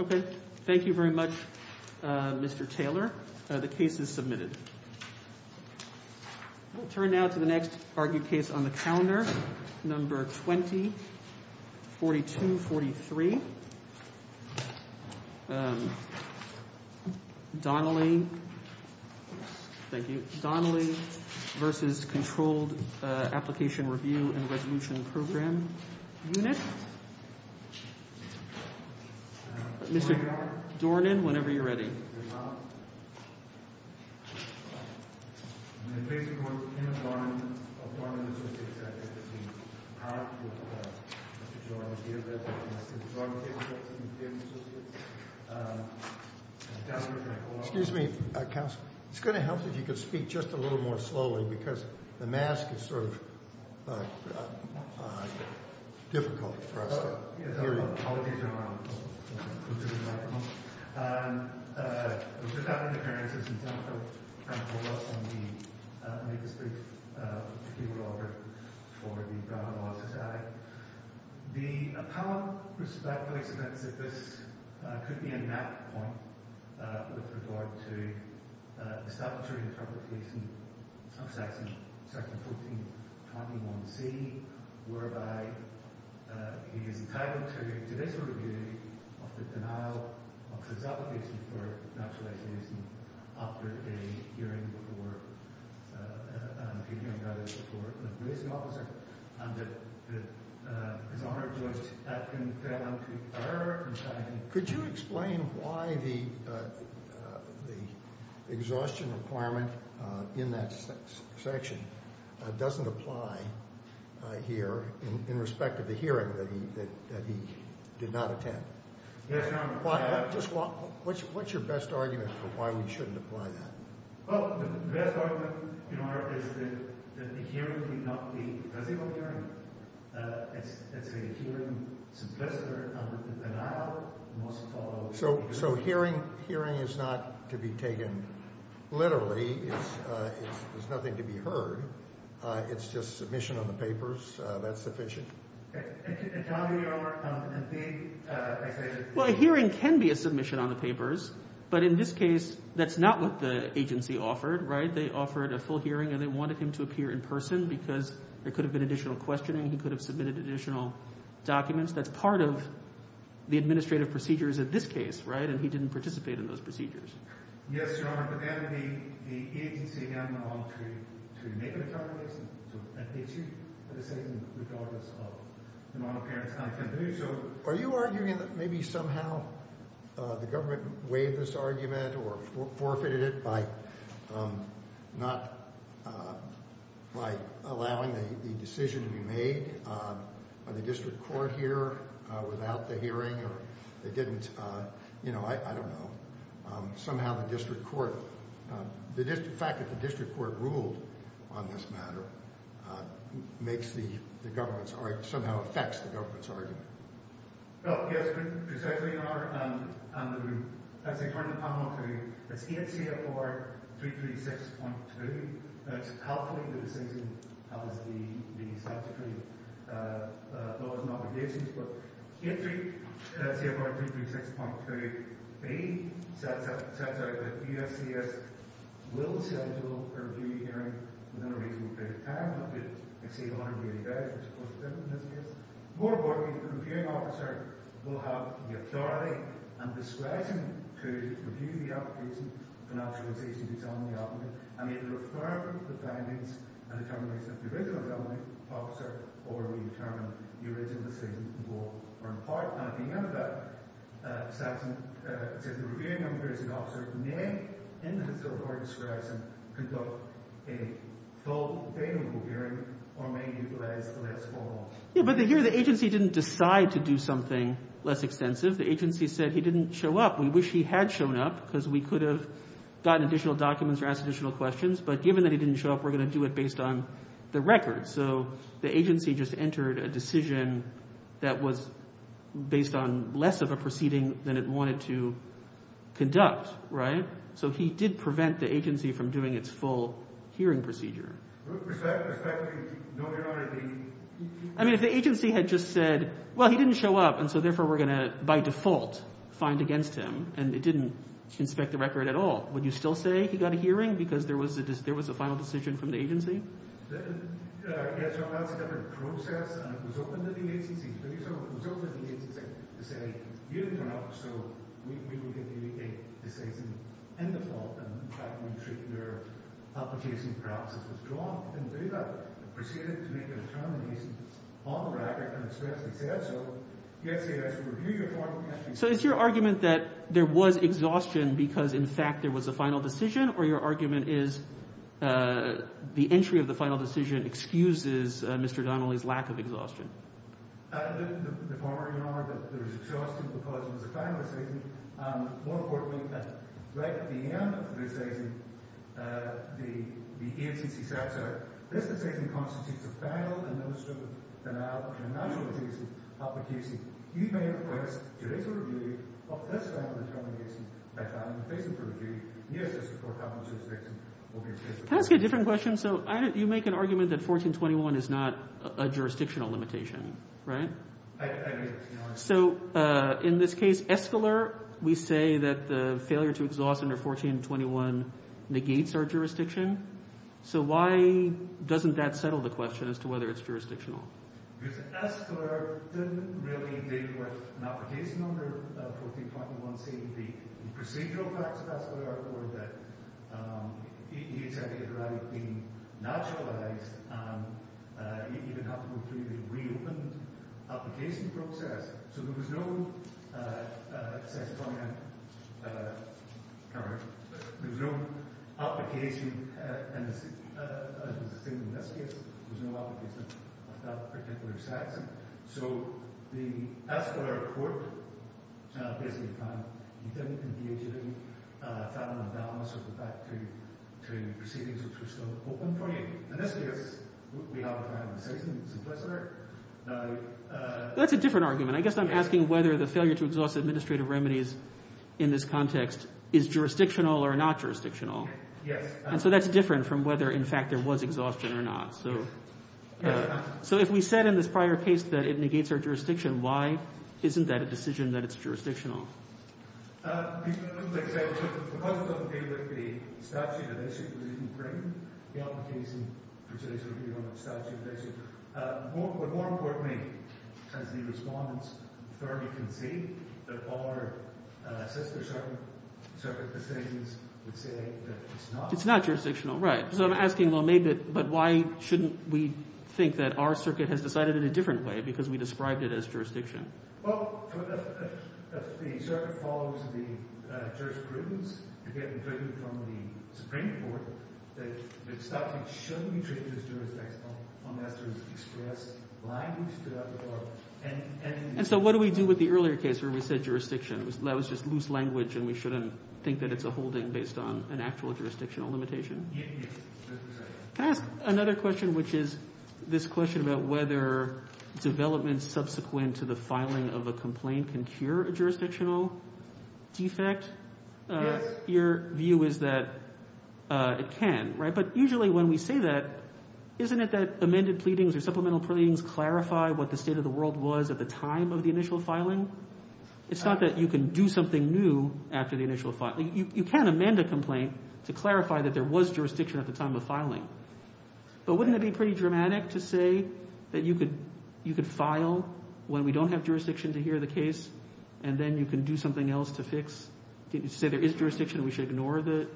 Okay. Thank you very much, Mr. Taylor. The case is submitted. We'll turn now to the next argued case on the calendar, number 20-4243. Donnelly. Thank you. Mr. Dornan, whenever you're ready. Excuse me, counsel. It's going to help if you could speak just a little more slowly because the mask is sort of difficult for us. Yes, I'm sorry about that. Apologies, Your Honour. We've just had an appearance of some technical loss on the magistrate's appeal order for the Brown Law Society. The appellant, Mr. Blackwell, exhibits that this could be a knack point with regard to the statutory interpretation of section 1421C, whereby he is entitled to judicial review of the denial of his application for naturalisation after a hearing before an appeal he undertook before a policing officer and that his argument was that he fell into error. Could you explain why the exhaustion requirement in that section doesn't apply here in respect of the hearing that he did not attend? Yes, Your Honour. What's your best argument for why we shouldn't apply that? Well, the best argument, Your Honour, is that the hearing did not be a physical hearing. It's a hearing submissive on the denial, most of all... So hearing is not to be taken literally. There's nothing to be heard. It's just submission on the papers. That's sufficient? And, Your Honour, indeed, I say that... But in this case, that's not what the agency offered, right? They offered a full hearing and they wanted him to appear in person because there could have been additional questioning. He could have submitted additional documents. That's part of the administrative procedures of this case, right? And he didn't participate in those procedures. Yes, Your Honour, but then the agency again went on to make an accusation. And they achieved the decision regardless of the amount of parents' time. So are you arguing that maybe somehow the government waived this argument or forfeited it by not... by allowing the decision to be made by the district court here without the hearing or they didn't, you know, I don't know. Somehow the district court... the fact that the district court ruled on this matter makes the government's... somehow affects the government's argument. Well, yes, precisely, Your Honour. As I turn the panel over to you, it's 8 CFR 336.2. It's helpful that the decision has the statutory laws and obligations. But 8 CFR 336.2b sets out that the USCIS will schedule a review hearing within a reasonable period of time. Not to exceed 180 days, which is close to 10 in this case. Moreover, the reviewing officer will have the authority and discretion to review the application, financialization, and exoneration of the application and may refer the findings and determination of the original government officer or re-determine the original decision in full or in part. And at the end of that session, it says the reviewing officer may, in his or her discretion, conduct a full, available hearing or may utilize the last four months. Yeah, but the agency didn't decide to do something less extensive. The agency said he didn't show up. We wish he had shown up because we could have gotten additional documents or asked additional questions. But given that he didn't show up, we're going to do it based on the record. So the agency just entered a decision that was based on less of a proceeding than it wanted to conduct, right? So he did prevent the agency from doing its full hearing procedure. Respectfully, no, there aren't any. I mean, if the agency had just said, well, he didn't show up, and so therefore we're going to, by default, find against him, and it didn't inspect the record at all, would you still say he got a hearing because there was a final decision from the agency? Yeah, so that's a different process, and it was open to the agency to do so. It was open to the agency to say, you didn't show up, so we will give you a decision in default. And in fact, we treat your application perhaps as withdrawn. We didn't do that. We proceeded to make a determination on the record and expressly said so. Yes, he has to review your final decision. So is your argument that there was exhaustion because, in fact, there was a final decision, or your argument is the entry of the final decision excuses Mr. Donnelly's lack of exhaustion? The former, Your Honor, that there was exhaustion because it was a final decision. More importantly, right at the end of the decision, the agency said, so this decision constitutes a final and administrative denial of your naturalization of the case. You may request to raise a review of this final determination by filing a face-up review. Yes, Mr. Corkadel, the jurisdiction will be in place. Can I ask you a different question? So you make an argument that 1421 is not a jurisdictional limitation, right? I do. So in this case, escalar, we say that the failure to exhaust under 1421 negates our jurisdiction. So why doesn't that settle the question as to whether it's jurisdictional? Because escalar didn't really deal with an application under 1421, saying the procedural facts of escalar or that the executive order had been naturalized and you didn't have to go through the reopened application process. So there was no application, as was the case in this case. There was no application of that particular statute. So the escalar court basically found that you didn't engage in a final analysis with respect to proceedings which were still open for you. In this case, we have a final decision, it's implicit. That's a different argument. I guess I'm asking whether the failure to exhaust administrative remedies in this context is jurisdictional or not jurisdictional. And so that's different from whether, in fact, there was exhaustion or not. So if we said in this prior case that it negates our jurisdiction, why isn't that a decision that it's jurisdictional? Because it doesn't deal with the statute of issues within the frame, the application for today's review on the statute of issues. But more importantly, as the respondent's authority can see, that our sister circuit decisions would say that it's not. It's not jurisdictional, right. So I'm asking, well, maybe, but why shouldn't we think that our circuit has decided in a different way because we described it as jurisdiction? Well, the circuit follows the jurisprudence, again, from the Supreme Court that the statute shouldn't be treated as jurisdictional unless there is express language to that report. And so what do we do with the earlier case where we said jurisdiction? That was just loose language and we shouldn't think that it's a holding based on an actual jurisdictional limitation? Yes, yes. Can I ask another question, which is this question about whether development subsequent to the filing of a complaint can cure a jurisdictional defect? Yes. Your view is that it can, right. But usually when we say that, isn't it that amended pleadings or supplemental pleadings clarify what the state of the world was at the time of the initial filing? It's not that you can do something new after the initial filing. You can amend a complaint to clarify that there was jurisdiction at the time of filing. But wouldn't it be pretty dramatic to say that you could file when we don't have jurisdiction to hear the case and then you can do something else to fix? Didn't you say there is jurisdiction and we should ignore the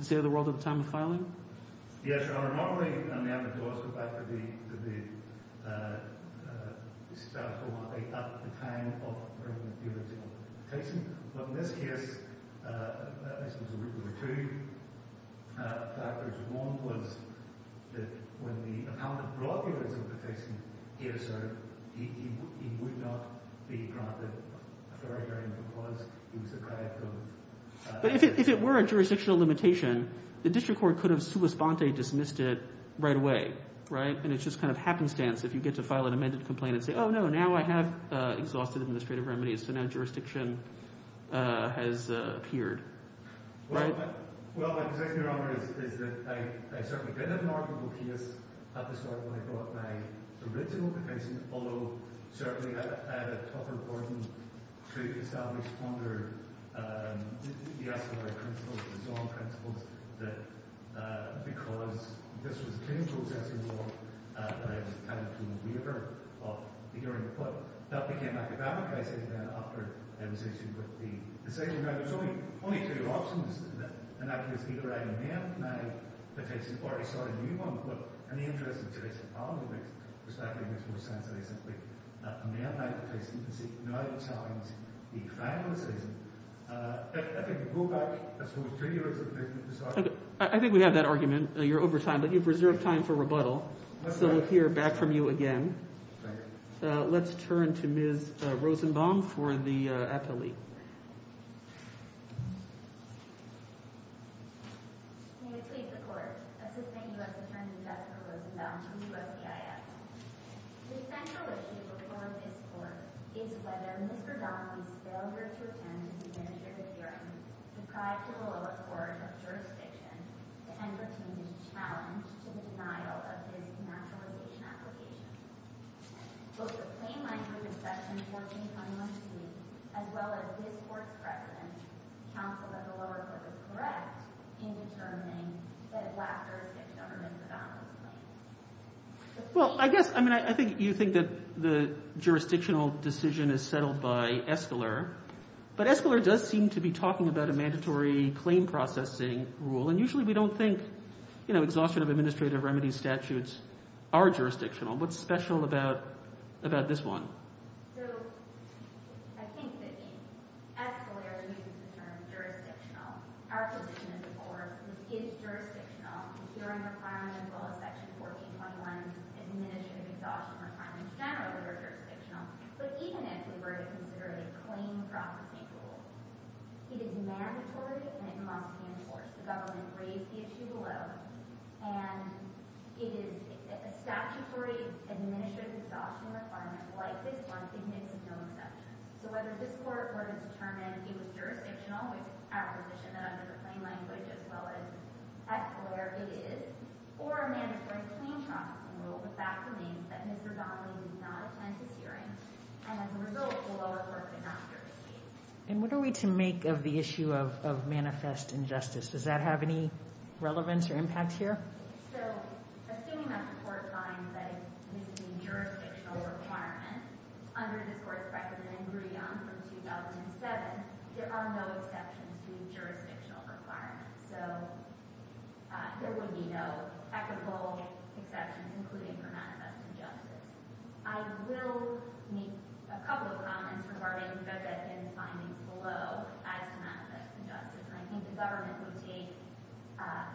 state of the world at the time of filing? Yes, Your Honor. Normally, the amendment does go back to the statute or the time of the original case. But in this case, there were two factors. One was that when the appellant brought the original defection here, so he would not be granted a very, very important clause. He was deprived of… But if it were a jurisdictional limitation, the district court could have sua sponte dismissed it right away, right. And it's just kind of happenstance if you get to file an amended complaint and say, Oh, no, now I have exhausted administrative remedies, so now jurisdiction has appeared. Well, Your Honor, I certainly did have an arguable case at the start when I brought my original defection, although certainly I had a tougher burden to establish under the escalatory principles, the zone principles, that because this was a clinical assessing law, that I was kind of a keen weaver of the hearing. But that became academic, I say, after I was issued with the decision. Now, there's only two options in that case. Either I amend now the case, or I start a new one. But in the interest of today's Parliament, which was back in this most recent week, amend now the case, as you can see, now to challenge the final decision. I think we have that argument. You're over time, but you've reserved time for rebuttal. So we'll hear back from you again. Let's turn to Ms. Rosenbaum for the appellee. Well, I guess, I mean, I think you think that the jurisdictional decision is settled by Escalier. But Escalier does seem to be talking about a mandatory claim processing rule. And usually we don't think, you know, exhaustion of administrative remedies statutes are jurisdictional. What's special about this one? So I think that Escalier uses the term jurisdictional. Our position is, of course, it is jurisdictional. The hearing requirements as well as Section 1421 administrative exhaustion requirements generally are jurisdictional. But even if we were to consider a claim processing rule, it is mandatory and it must be enforced. The government raised the issue below. And it is a statutory administrative exhaustion requirement like this one. It makes no exceptions. So whether this court were to determine it was jurisdictional, our position that under the plain language as well as Escalier, it is, or a mandatory claim processing rule, the fact remains that Mr. Donnelly did not attend this hearing. And as a result, the lower court did not hear the case. And what are we to make of the issue of manifest injustice? Does that have any relevance or impact here? So assuming that the court finds that it meets the jurisdictional requirement, under this court's recommendation from 2007, there are no exceptions to jurisdictional requirements. So there would be no equitable exceptions, including for manifest injustice. I will make a couple of comments regarding Judge Atkin's findings below as to manifest injustice. And I think the government would take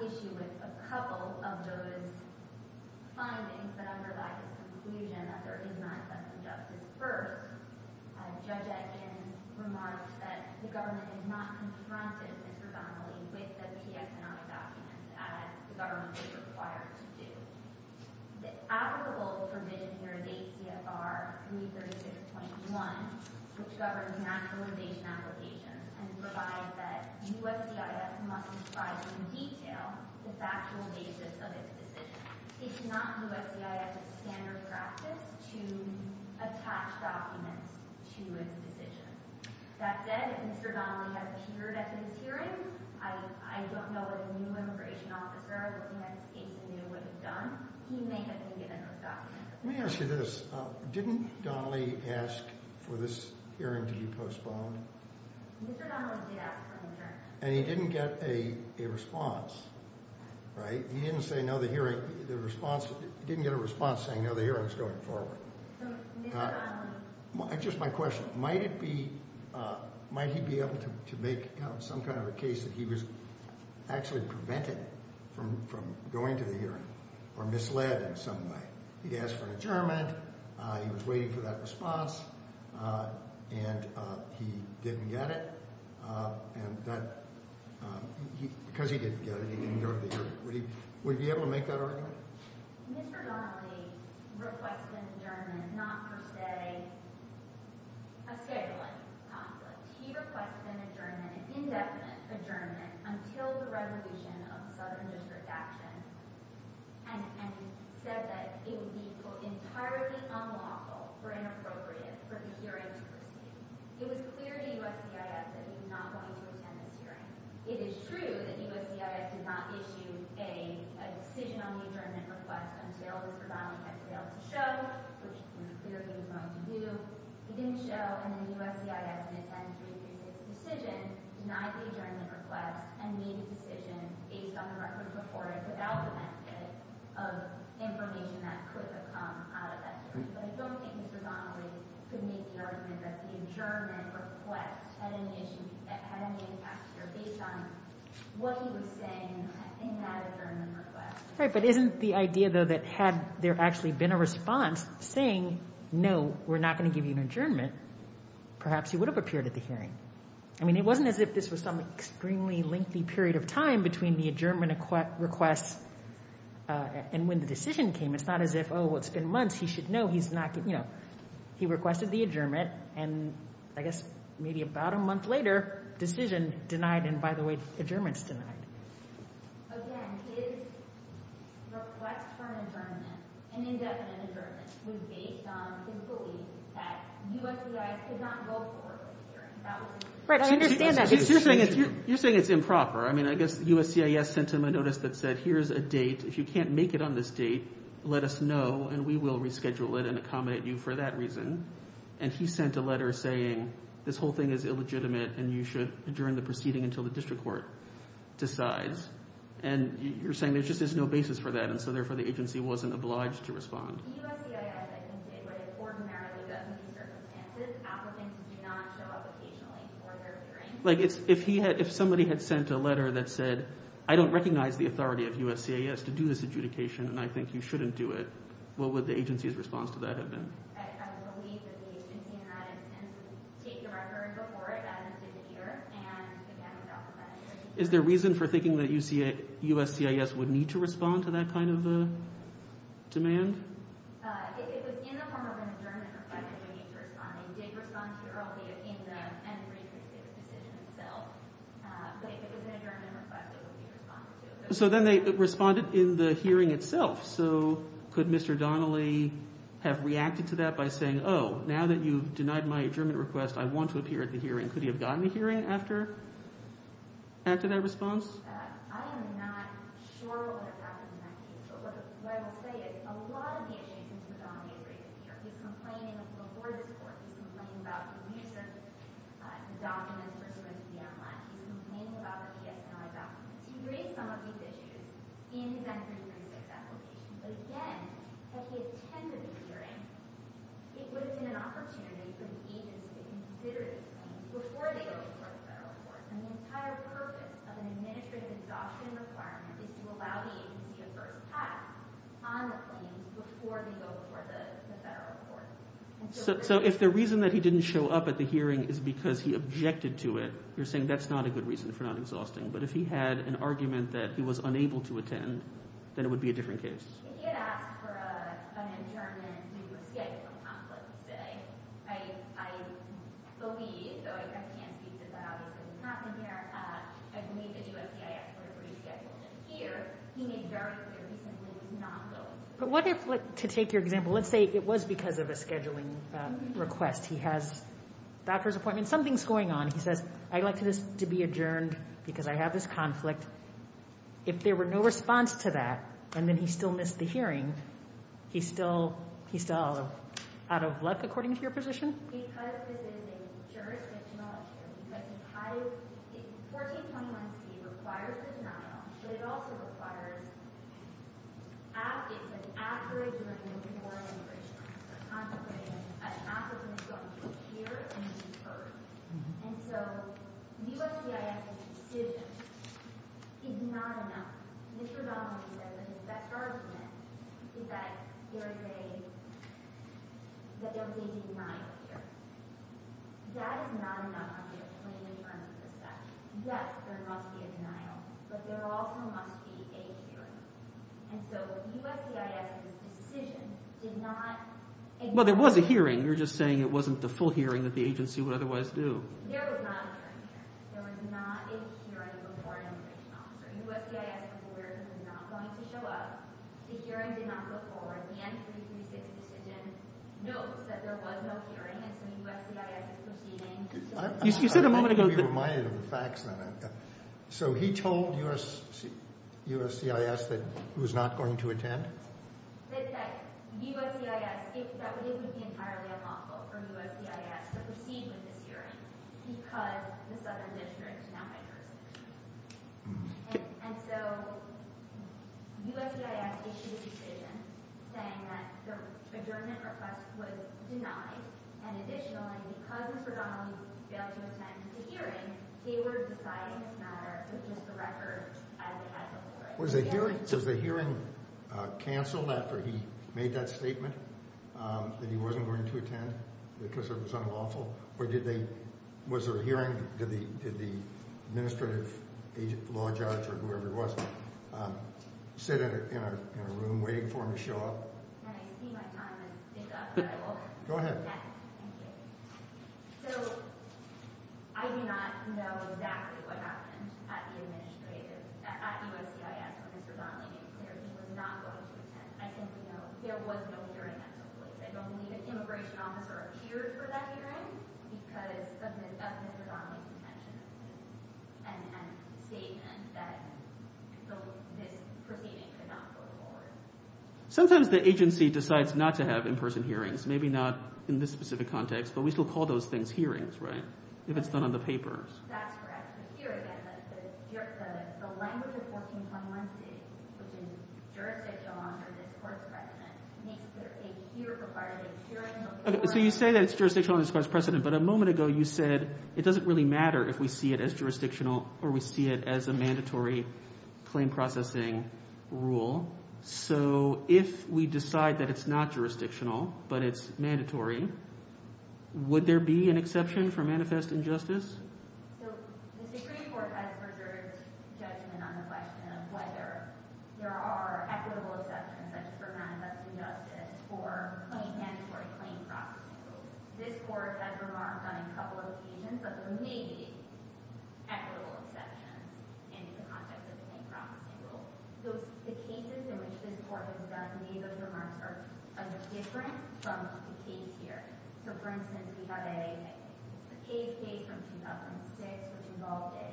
issue with a couple of those findings, but underlie his conclusion that there is manifest injustice first. Judge Atkin remarks that the government has not confronted Mr. Donnelly with the PS&I documents as the government is required to do. The applicable provision here is ACFR 336.1, which governs naturalization applications, and provides that USCIS must describe in detail the factual basis of its decision. It is not USCIS's standard practice to attach documents to its decision. That said, if Mr. Donnelly has appeared at this hearing, I don't know that a new immigration officer is looking at this case and knew what he's done. He may have been given a stop. Let me ask you this. Didn't Donnelly ask for this hearing to be postponed? Mr. Donnelly did ask for a new hearing. And he didn't get a response, right? He didn't get a response saying, no, the hearing is going forward. Just my question. Might he be able to make some kind of a case that he was actually prevented from going to the hearing or misled in some way? He asked for an adjournment. He was waiting for that response. And he didn't get it. Because he didn't get it, he didn't go to the hearing. Would he be able to make that argument? Mr. Donnelly requested an adjournment, not for, say, a scheduling conflict. He requested an adjournment, an indefinite adjournment, until the resolution of the Southern District Action and said that it would be entirely unlawful or inappropriate for the hearing to proceed. It was clear to USCIS that he was not going to attend this hearing. It is true that USCIS did not issue a decision on the adjournment request until Mr. Donnelly had failed to show, which it was clear he was going to do. He didn't show. And then USCIS didn't attend three cases of decision, denied the adjournment request, and made a decision based on the records reported without the benefit of information that could have come out of that hearing. But I don't think Mr. Donnelly could make the argument that the adjournment request had any impact here based on what he was saying in that adjournment request. Right, but isn't the idea, though, that had there actually been a response saying, no, we're not going to give you an adjournment, perhaps he would have appeared at the hearing. I mean, it wasn't as if this was some extremely lengthy period of time between the adjournment request and when the decision came. It's not as if, oh, well, it's been months, he should know he's not going to, you know. He requested the adjournment, and I guess maybe about a month later, decision denied, and by the way, adjournment's denied. Again, his request for an adjournment, an indefinite adjournment, was based on his belief that USCIS could not go forward with the hearing. Right, I understand that. You're saying it's improper. I mean, I guess USCIS sent him a notice that said, here's a date. If you can't make it on this date, let us know, and we will reschedule it and accommodate you for that reason. And he sent a letter saying, this whole thing is illegitimate, and you should adjourn the proceeding until the district court decides. And you're saying there just is no basis for that, and so therefore the agency wasn't obliged to respond. USCIS, I think, did what it ordinarily does in these circumstances. Applicants do not show up occasionally for their hearings. Like, if somebody had sent a letter that said, I don't recognize the authority of USCIS to do this adjudication, and I think you shouldn't do it, what would the agency's response to that have been? I would believe that the agency in that instance would take the record before it, as it did the hearing, and, again, adopt the criteria. Is there reason for thinking that USCIS would need to respond to that kind of demand? If it was in the form of an adjournment request, it would need to respond. They did respond to it earlier in the N-366 decision itself. But if it was an adjournment request, it would need to respond to it. So then they responded in the hearing itself. So could Mr. Donnelly have reacted to that by saying, oh, now that you've denied my adjournment request, I want to appear at the hearing? Could he have gotten a hearing after that response? I am not sure what would have happened in that case, but what I will say is a lot of the agency to whom Donnelly has raised a fear. He's complaining before this Court. He's complaining about the research documents for surveillance of the M-1. He's complaining about the PSNI documents. He raised some of these issues in his N-336 application. But, again, had he attended the hearing, it would have been an opportunity for the agency to consider these claims before they go before the federal courts. And the entire purpose of an administrative adoption requirement is to allow the agency a first pass on the claims before they go before the federal courts. So if the reason that he didn't show up at the hearing is because he objected to it, you're saying that's not a good reason for not exhausting. But if he had an argument that he was unable to attend, then it would be a different case. If he had asked for an adjournment due to a schedule conflict today, I believe, though I can't speak to the obvious that's happened here, I believe the USCIS would have rescheduled it here. He made very clear recently he's not going. But what if, to take your example, let's say it was because of a scheduling request. He has a doctor's appointment. Something's going on. He says, I'd like this to be adjourned because I have this conflict. If there were no response to that and then he still missed the hearing, he's still out of luck, according to your position? Because this is a jurisdictional issue. Because 1421C requires a denial, but it also requires an after-adjournment for immigration. An after-adjournment is going to appear and be heard. And so USCIS's decision is not enough. Mr. Bellamy says that his best argument is that there's a denial here. That is not enough, I'm just explaining in terms of the statute. Yes, there must be a denial, but there also must be a hearing. And so USCIS's decision did not ignore it. Well, there was a hearing. You're just saying it wasn't the full hearing that the agency would otherwise do. There was not a hearing here. There was not a hearing before an immigration officer. USCIS is aware this is not going to show up. The hearing did not go forward. The N336 decision notes that there was no hearing, and so USCIS is proceeding. You said a moment ago that— That USCIS—that would even be entirely unlawful for USCIS to proceed with this hearing because the Southern District is now under jurisdiction. And so USCIS issued a decision saying that the adjournment request was denied, and additionally, because Mr. Donnelly failed to attend the hearing, they were deciding this matter with just the record as it had been. Was the hearing canceled after he made that statement that he wasn't going to attend because it was unlawful? Or did they—was there a hearing? Did the administrative law judge or whoever it was sit in a room waiting for him to show up? Can I see my time and pick up? Go ahead. Thank you. So I do not know exactly what happened at the administrative—at USCIS when Mr. Donnelly made it clear he was not going to attend. I simply know there was no hearing at the police. I don't believe an immigration officer appeared for that hearing because of Mr. Donnelly's detention and statement that this proceeding could not go forward. Sometimes the agency decides not to have in-person hearings. Maybe not in this specific context, but we still call those things hearings, right, if it's done on the papers. That's correct. But here, again, the language of 1421c, which is jurisdictional under this court's precedent, makes clear a hearing required a hearing— So you say that it's jurisdictional under this court's precedent, but a moment ago you said it doesn't really matter if we see it as jurisdictional or we see it as a mandatory claim processing rule. So if we decide that it's not jurisdictional but it's mandatory, would there be an exception for manifest injustice? So the Supreme Court has reserved judgment on the question of whether there are equitable exceptions, such as for manifest injustice, for mandatory claim processing rules. This court has remarked on a couple of occasions that there may be equitable exceptions in the context of the claim processing rules. So the cases in which this court has done, many of those remarks are different from the case here. So, for instance, we have a case case from 2006, which involved a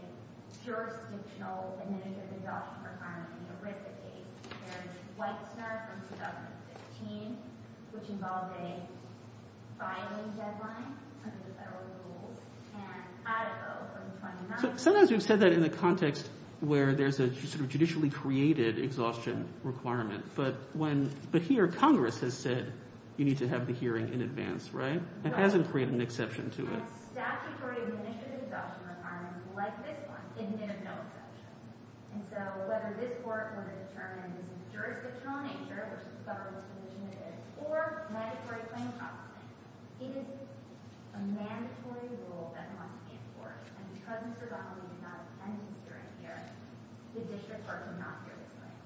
jurisdictional administrative adoption requirement in the ERISA case. There's Weitzner from 2015, which involved a filing deadline under the federal rules. Sometimes we've said that in the context where there's a sort of judicially created exhaustion requirement, but here Congress has said you need to have the hearing in advance, right? It hasn't created an exception to it. And statutory administrative adoption requirements like this one, it needed no exception. And so whether this court would have determined it's a jurisdictional nature, which is the federal disposition it is, or mandatory claim processing, it is a mandatory rule that must be enforced. And because Mr. Donnelly did not attend his hearing here, the district court did not hear this claim.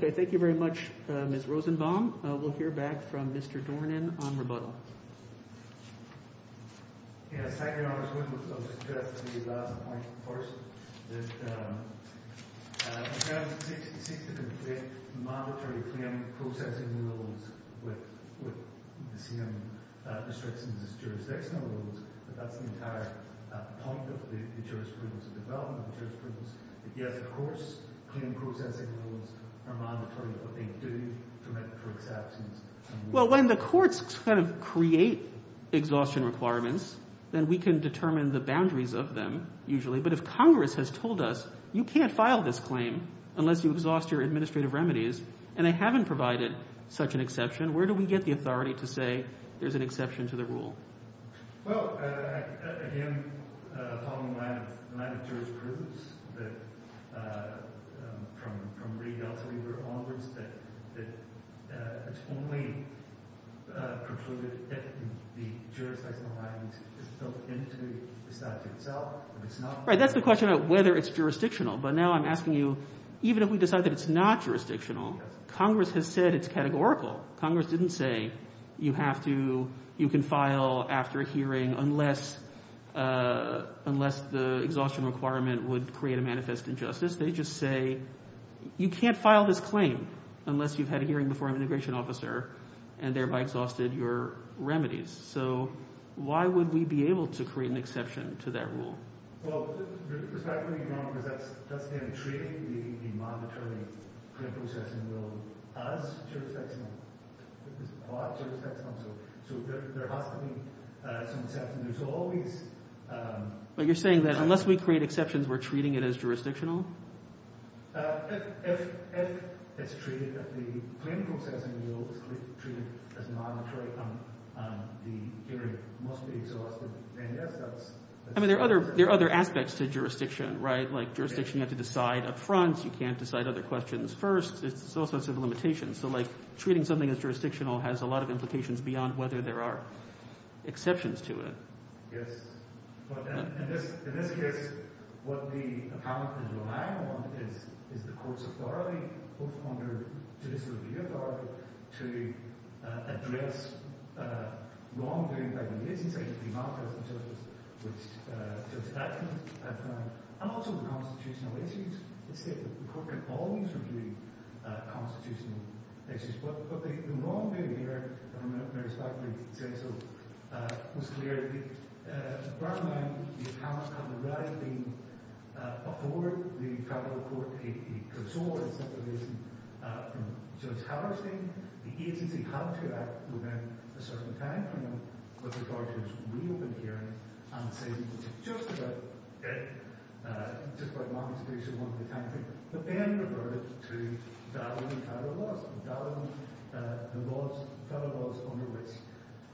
Okay, thank you very much, Ms. Rosenbaum. We'll hear back from Mr. Dornan on rebuttal. Yes, thank you, Your Honor. I was going to suggest the last point first, that you can't seek to complete mandatory claim processing rules with the same restrictions as jurisdictional rules, but that's the entire point of the jurisprudence, the development of the jurisprudence. Yes, of course, claim processing rules are mandatory, but they do permit for exceptions. Well, when the courts kind of create exhaustion requirements, then we can determine the boundaries of them usually, but if Congress has told us you can't file this claim unless you exhaust your administrative remedies and they haven't provided such an exception, where do we get the authority to say there's an exception to the rule? Well, again, following the line of jurisprudence, that from re-Delta we were onwards, that it's only precluded if the jurisdictional line is built into the statute itself. Right, that's the question about whether it's jurisdictional. But now I'm asking you, even if we decide that it's not jurisdictional, Congress has said it's categorical. Congress didn't say you can file after a hearing unless the exhaustion requirement would create a manifest injustice. They just say you can't file this claim unless you've had a hearing before an immigration officer and thereby exhausted your remedies. So why would we be able to create an exception to that rule? Well, respectfully, Your Honor, because that's then treating the mandatory claim processing rule as jurisdictional. It's not jurisdictional, so there has to be some exception. There's always... But you're saying that unless we create exceptions, we're treating it as jurisdictional? If it's treated, if the claim processing rule is treated as mandatory on the hearing, it must be exhausted. I mean, there are other aspects to jurisdiction, right? Like jurisdiction, you have to decide up front. You can't decide other questions first. It's also a set of limitations. So, like, treating something as jurisdictional has a lot of implications beyond whether there are exceptions to it. Yes. In this case, what the appellant is relying on is the court's authority, both under judicial review authority, to address wrongdoing by the agency, to demarcate it in terms of statute, and also the constitutional issues. The court can always review constitutional issues. But the wrongdoing here, and I respect that you can say so, was clear. Right now, the appellant had the right to afford the tribal court a consolidation from Judge Hallerstein. The agency had to act within a certain timeframe with regard to its reopened hearing and say, Okay. Just by modification of one of the timeframes. But then reverted to valid and federal laws. And valid and federal laws under which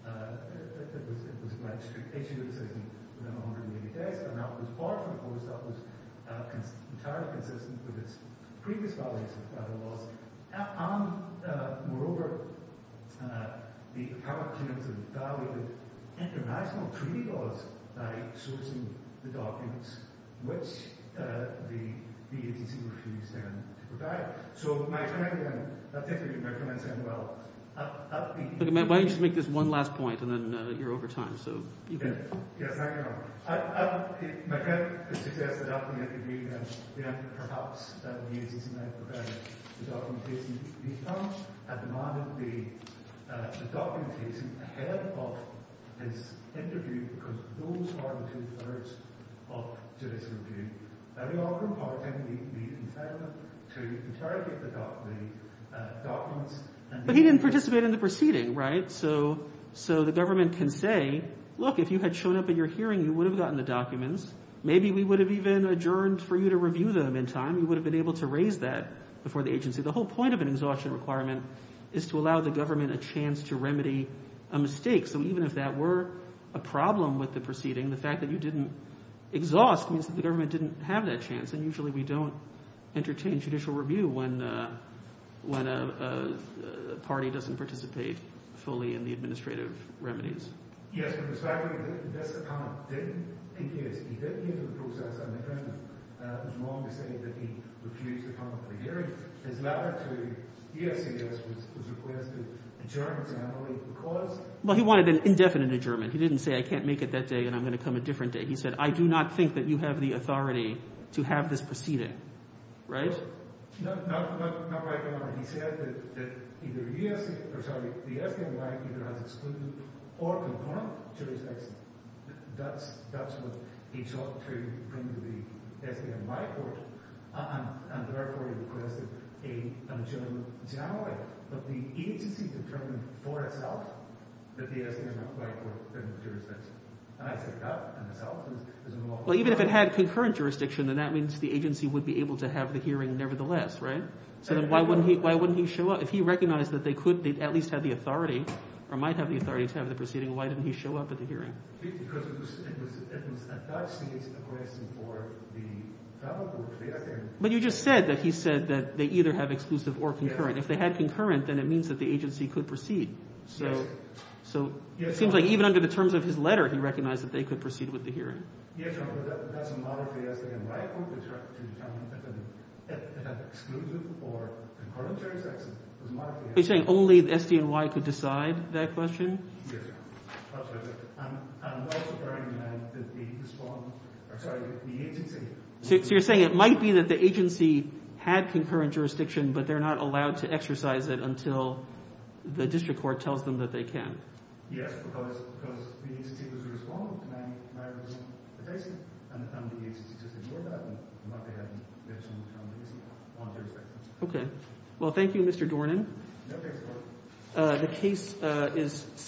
it was a legislative decision within 180 days. And that was far from the courts. That was entirely consistent with its previous values of federal laws. Moreover, the appellant came to the value of international treaty laws by sourcing the documents, which the agency refused them to provide. So my comment then, I'll take it from your comment, Samuel. Why don't you just make this one last point, and then you're over time. Yes, hang on. My comment is to suggest that ultimately, perhaps that the agency's not provided the documentation. The appellant had demanded the documentation ahead of his interview, because those are the two thirds of Judicial Review. And we are reporting the appellant to interrogate the documents. But he didn't participate in the proceeding, right? So the government can say, look, if you had shown up at your hearing, you would have gotten the documents. Maybe we would have even adjourned for you to review them in time. You would have been able to raise that before the agency. The whole point of an exhaustion requirement is to allow the government a chance to remedy a mistake. So even if that were a problem with the proceeding, the fact that you didn't exhaust means that the government didn't have that chance. And usually we don't entertain Judicial Review when a party doesn't participate fully in the administrative remedies. Yes, but the fact that this appellant didn't engage, he didn't enter the process independently, it was wrong to say that he refused to come to the hearing. His letter to EOCS was requested adjournment, and I don't believe it was caused. Well, he wanted an indefinite adjournment. He didn't say, I can't make it that day, and I'm going to come a different day. He said, I do not think that you have the authority to have this proceeded. Right? No, not right now. He said that the SDNY either has excluded or component jurisdiction. That's what he sought to bring to the SDNY court, and therefore he requested an adjournment generally. But the agency determined for itself that the SDNY court didn't have jurisdiction. Well, even if it had concurrent jurisdiction, then that means the agency would be able to have the hearing nevertheless, right? So then why wouldn't he show up? If he recognized that they could at least have the authority or might have the authority to have the proceeding, why didn't he show up at the hearing? But you just said that he said that they either have exclusive or concurrent. If they had concurrent, then it means that the agency could proceed. So it seems like even under the terms of his letter, he recognized that they could proceed with the hearing. Are you saying only the SDNY could decide that question? Yes, Your Honor. I'm not referring to the respondent. I'm sorry, the agency. So you're saying it might be that the agency had concurrent jurisdiction, but they're not allowed to exercise it until the district court tells them that they can. Yes, because the agency was a respondent. And the agency just ignored that. They might have mentioned that the agency wanted jurisdiction. Okay. Well, thank you, Mr. Dornan. No case reported. The case is submitted.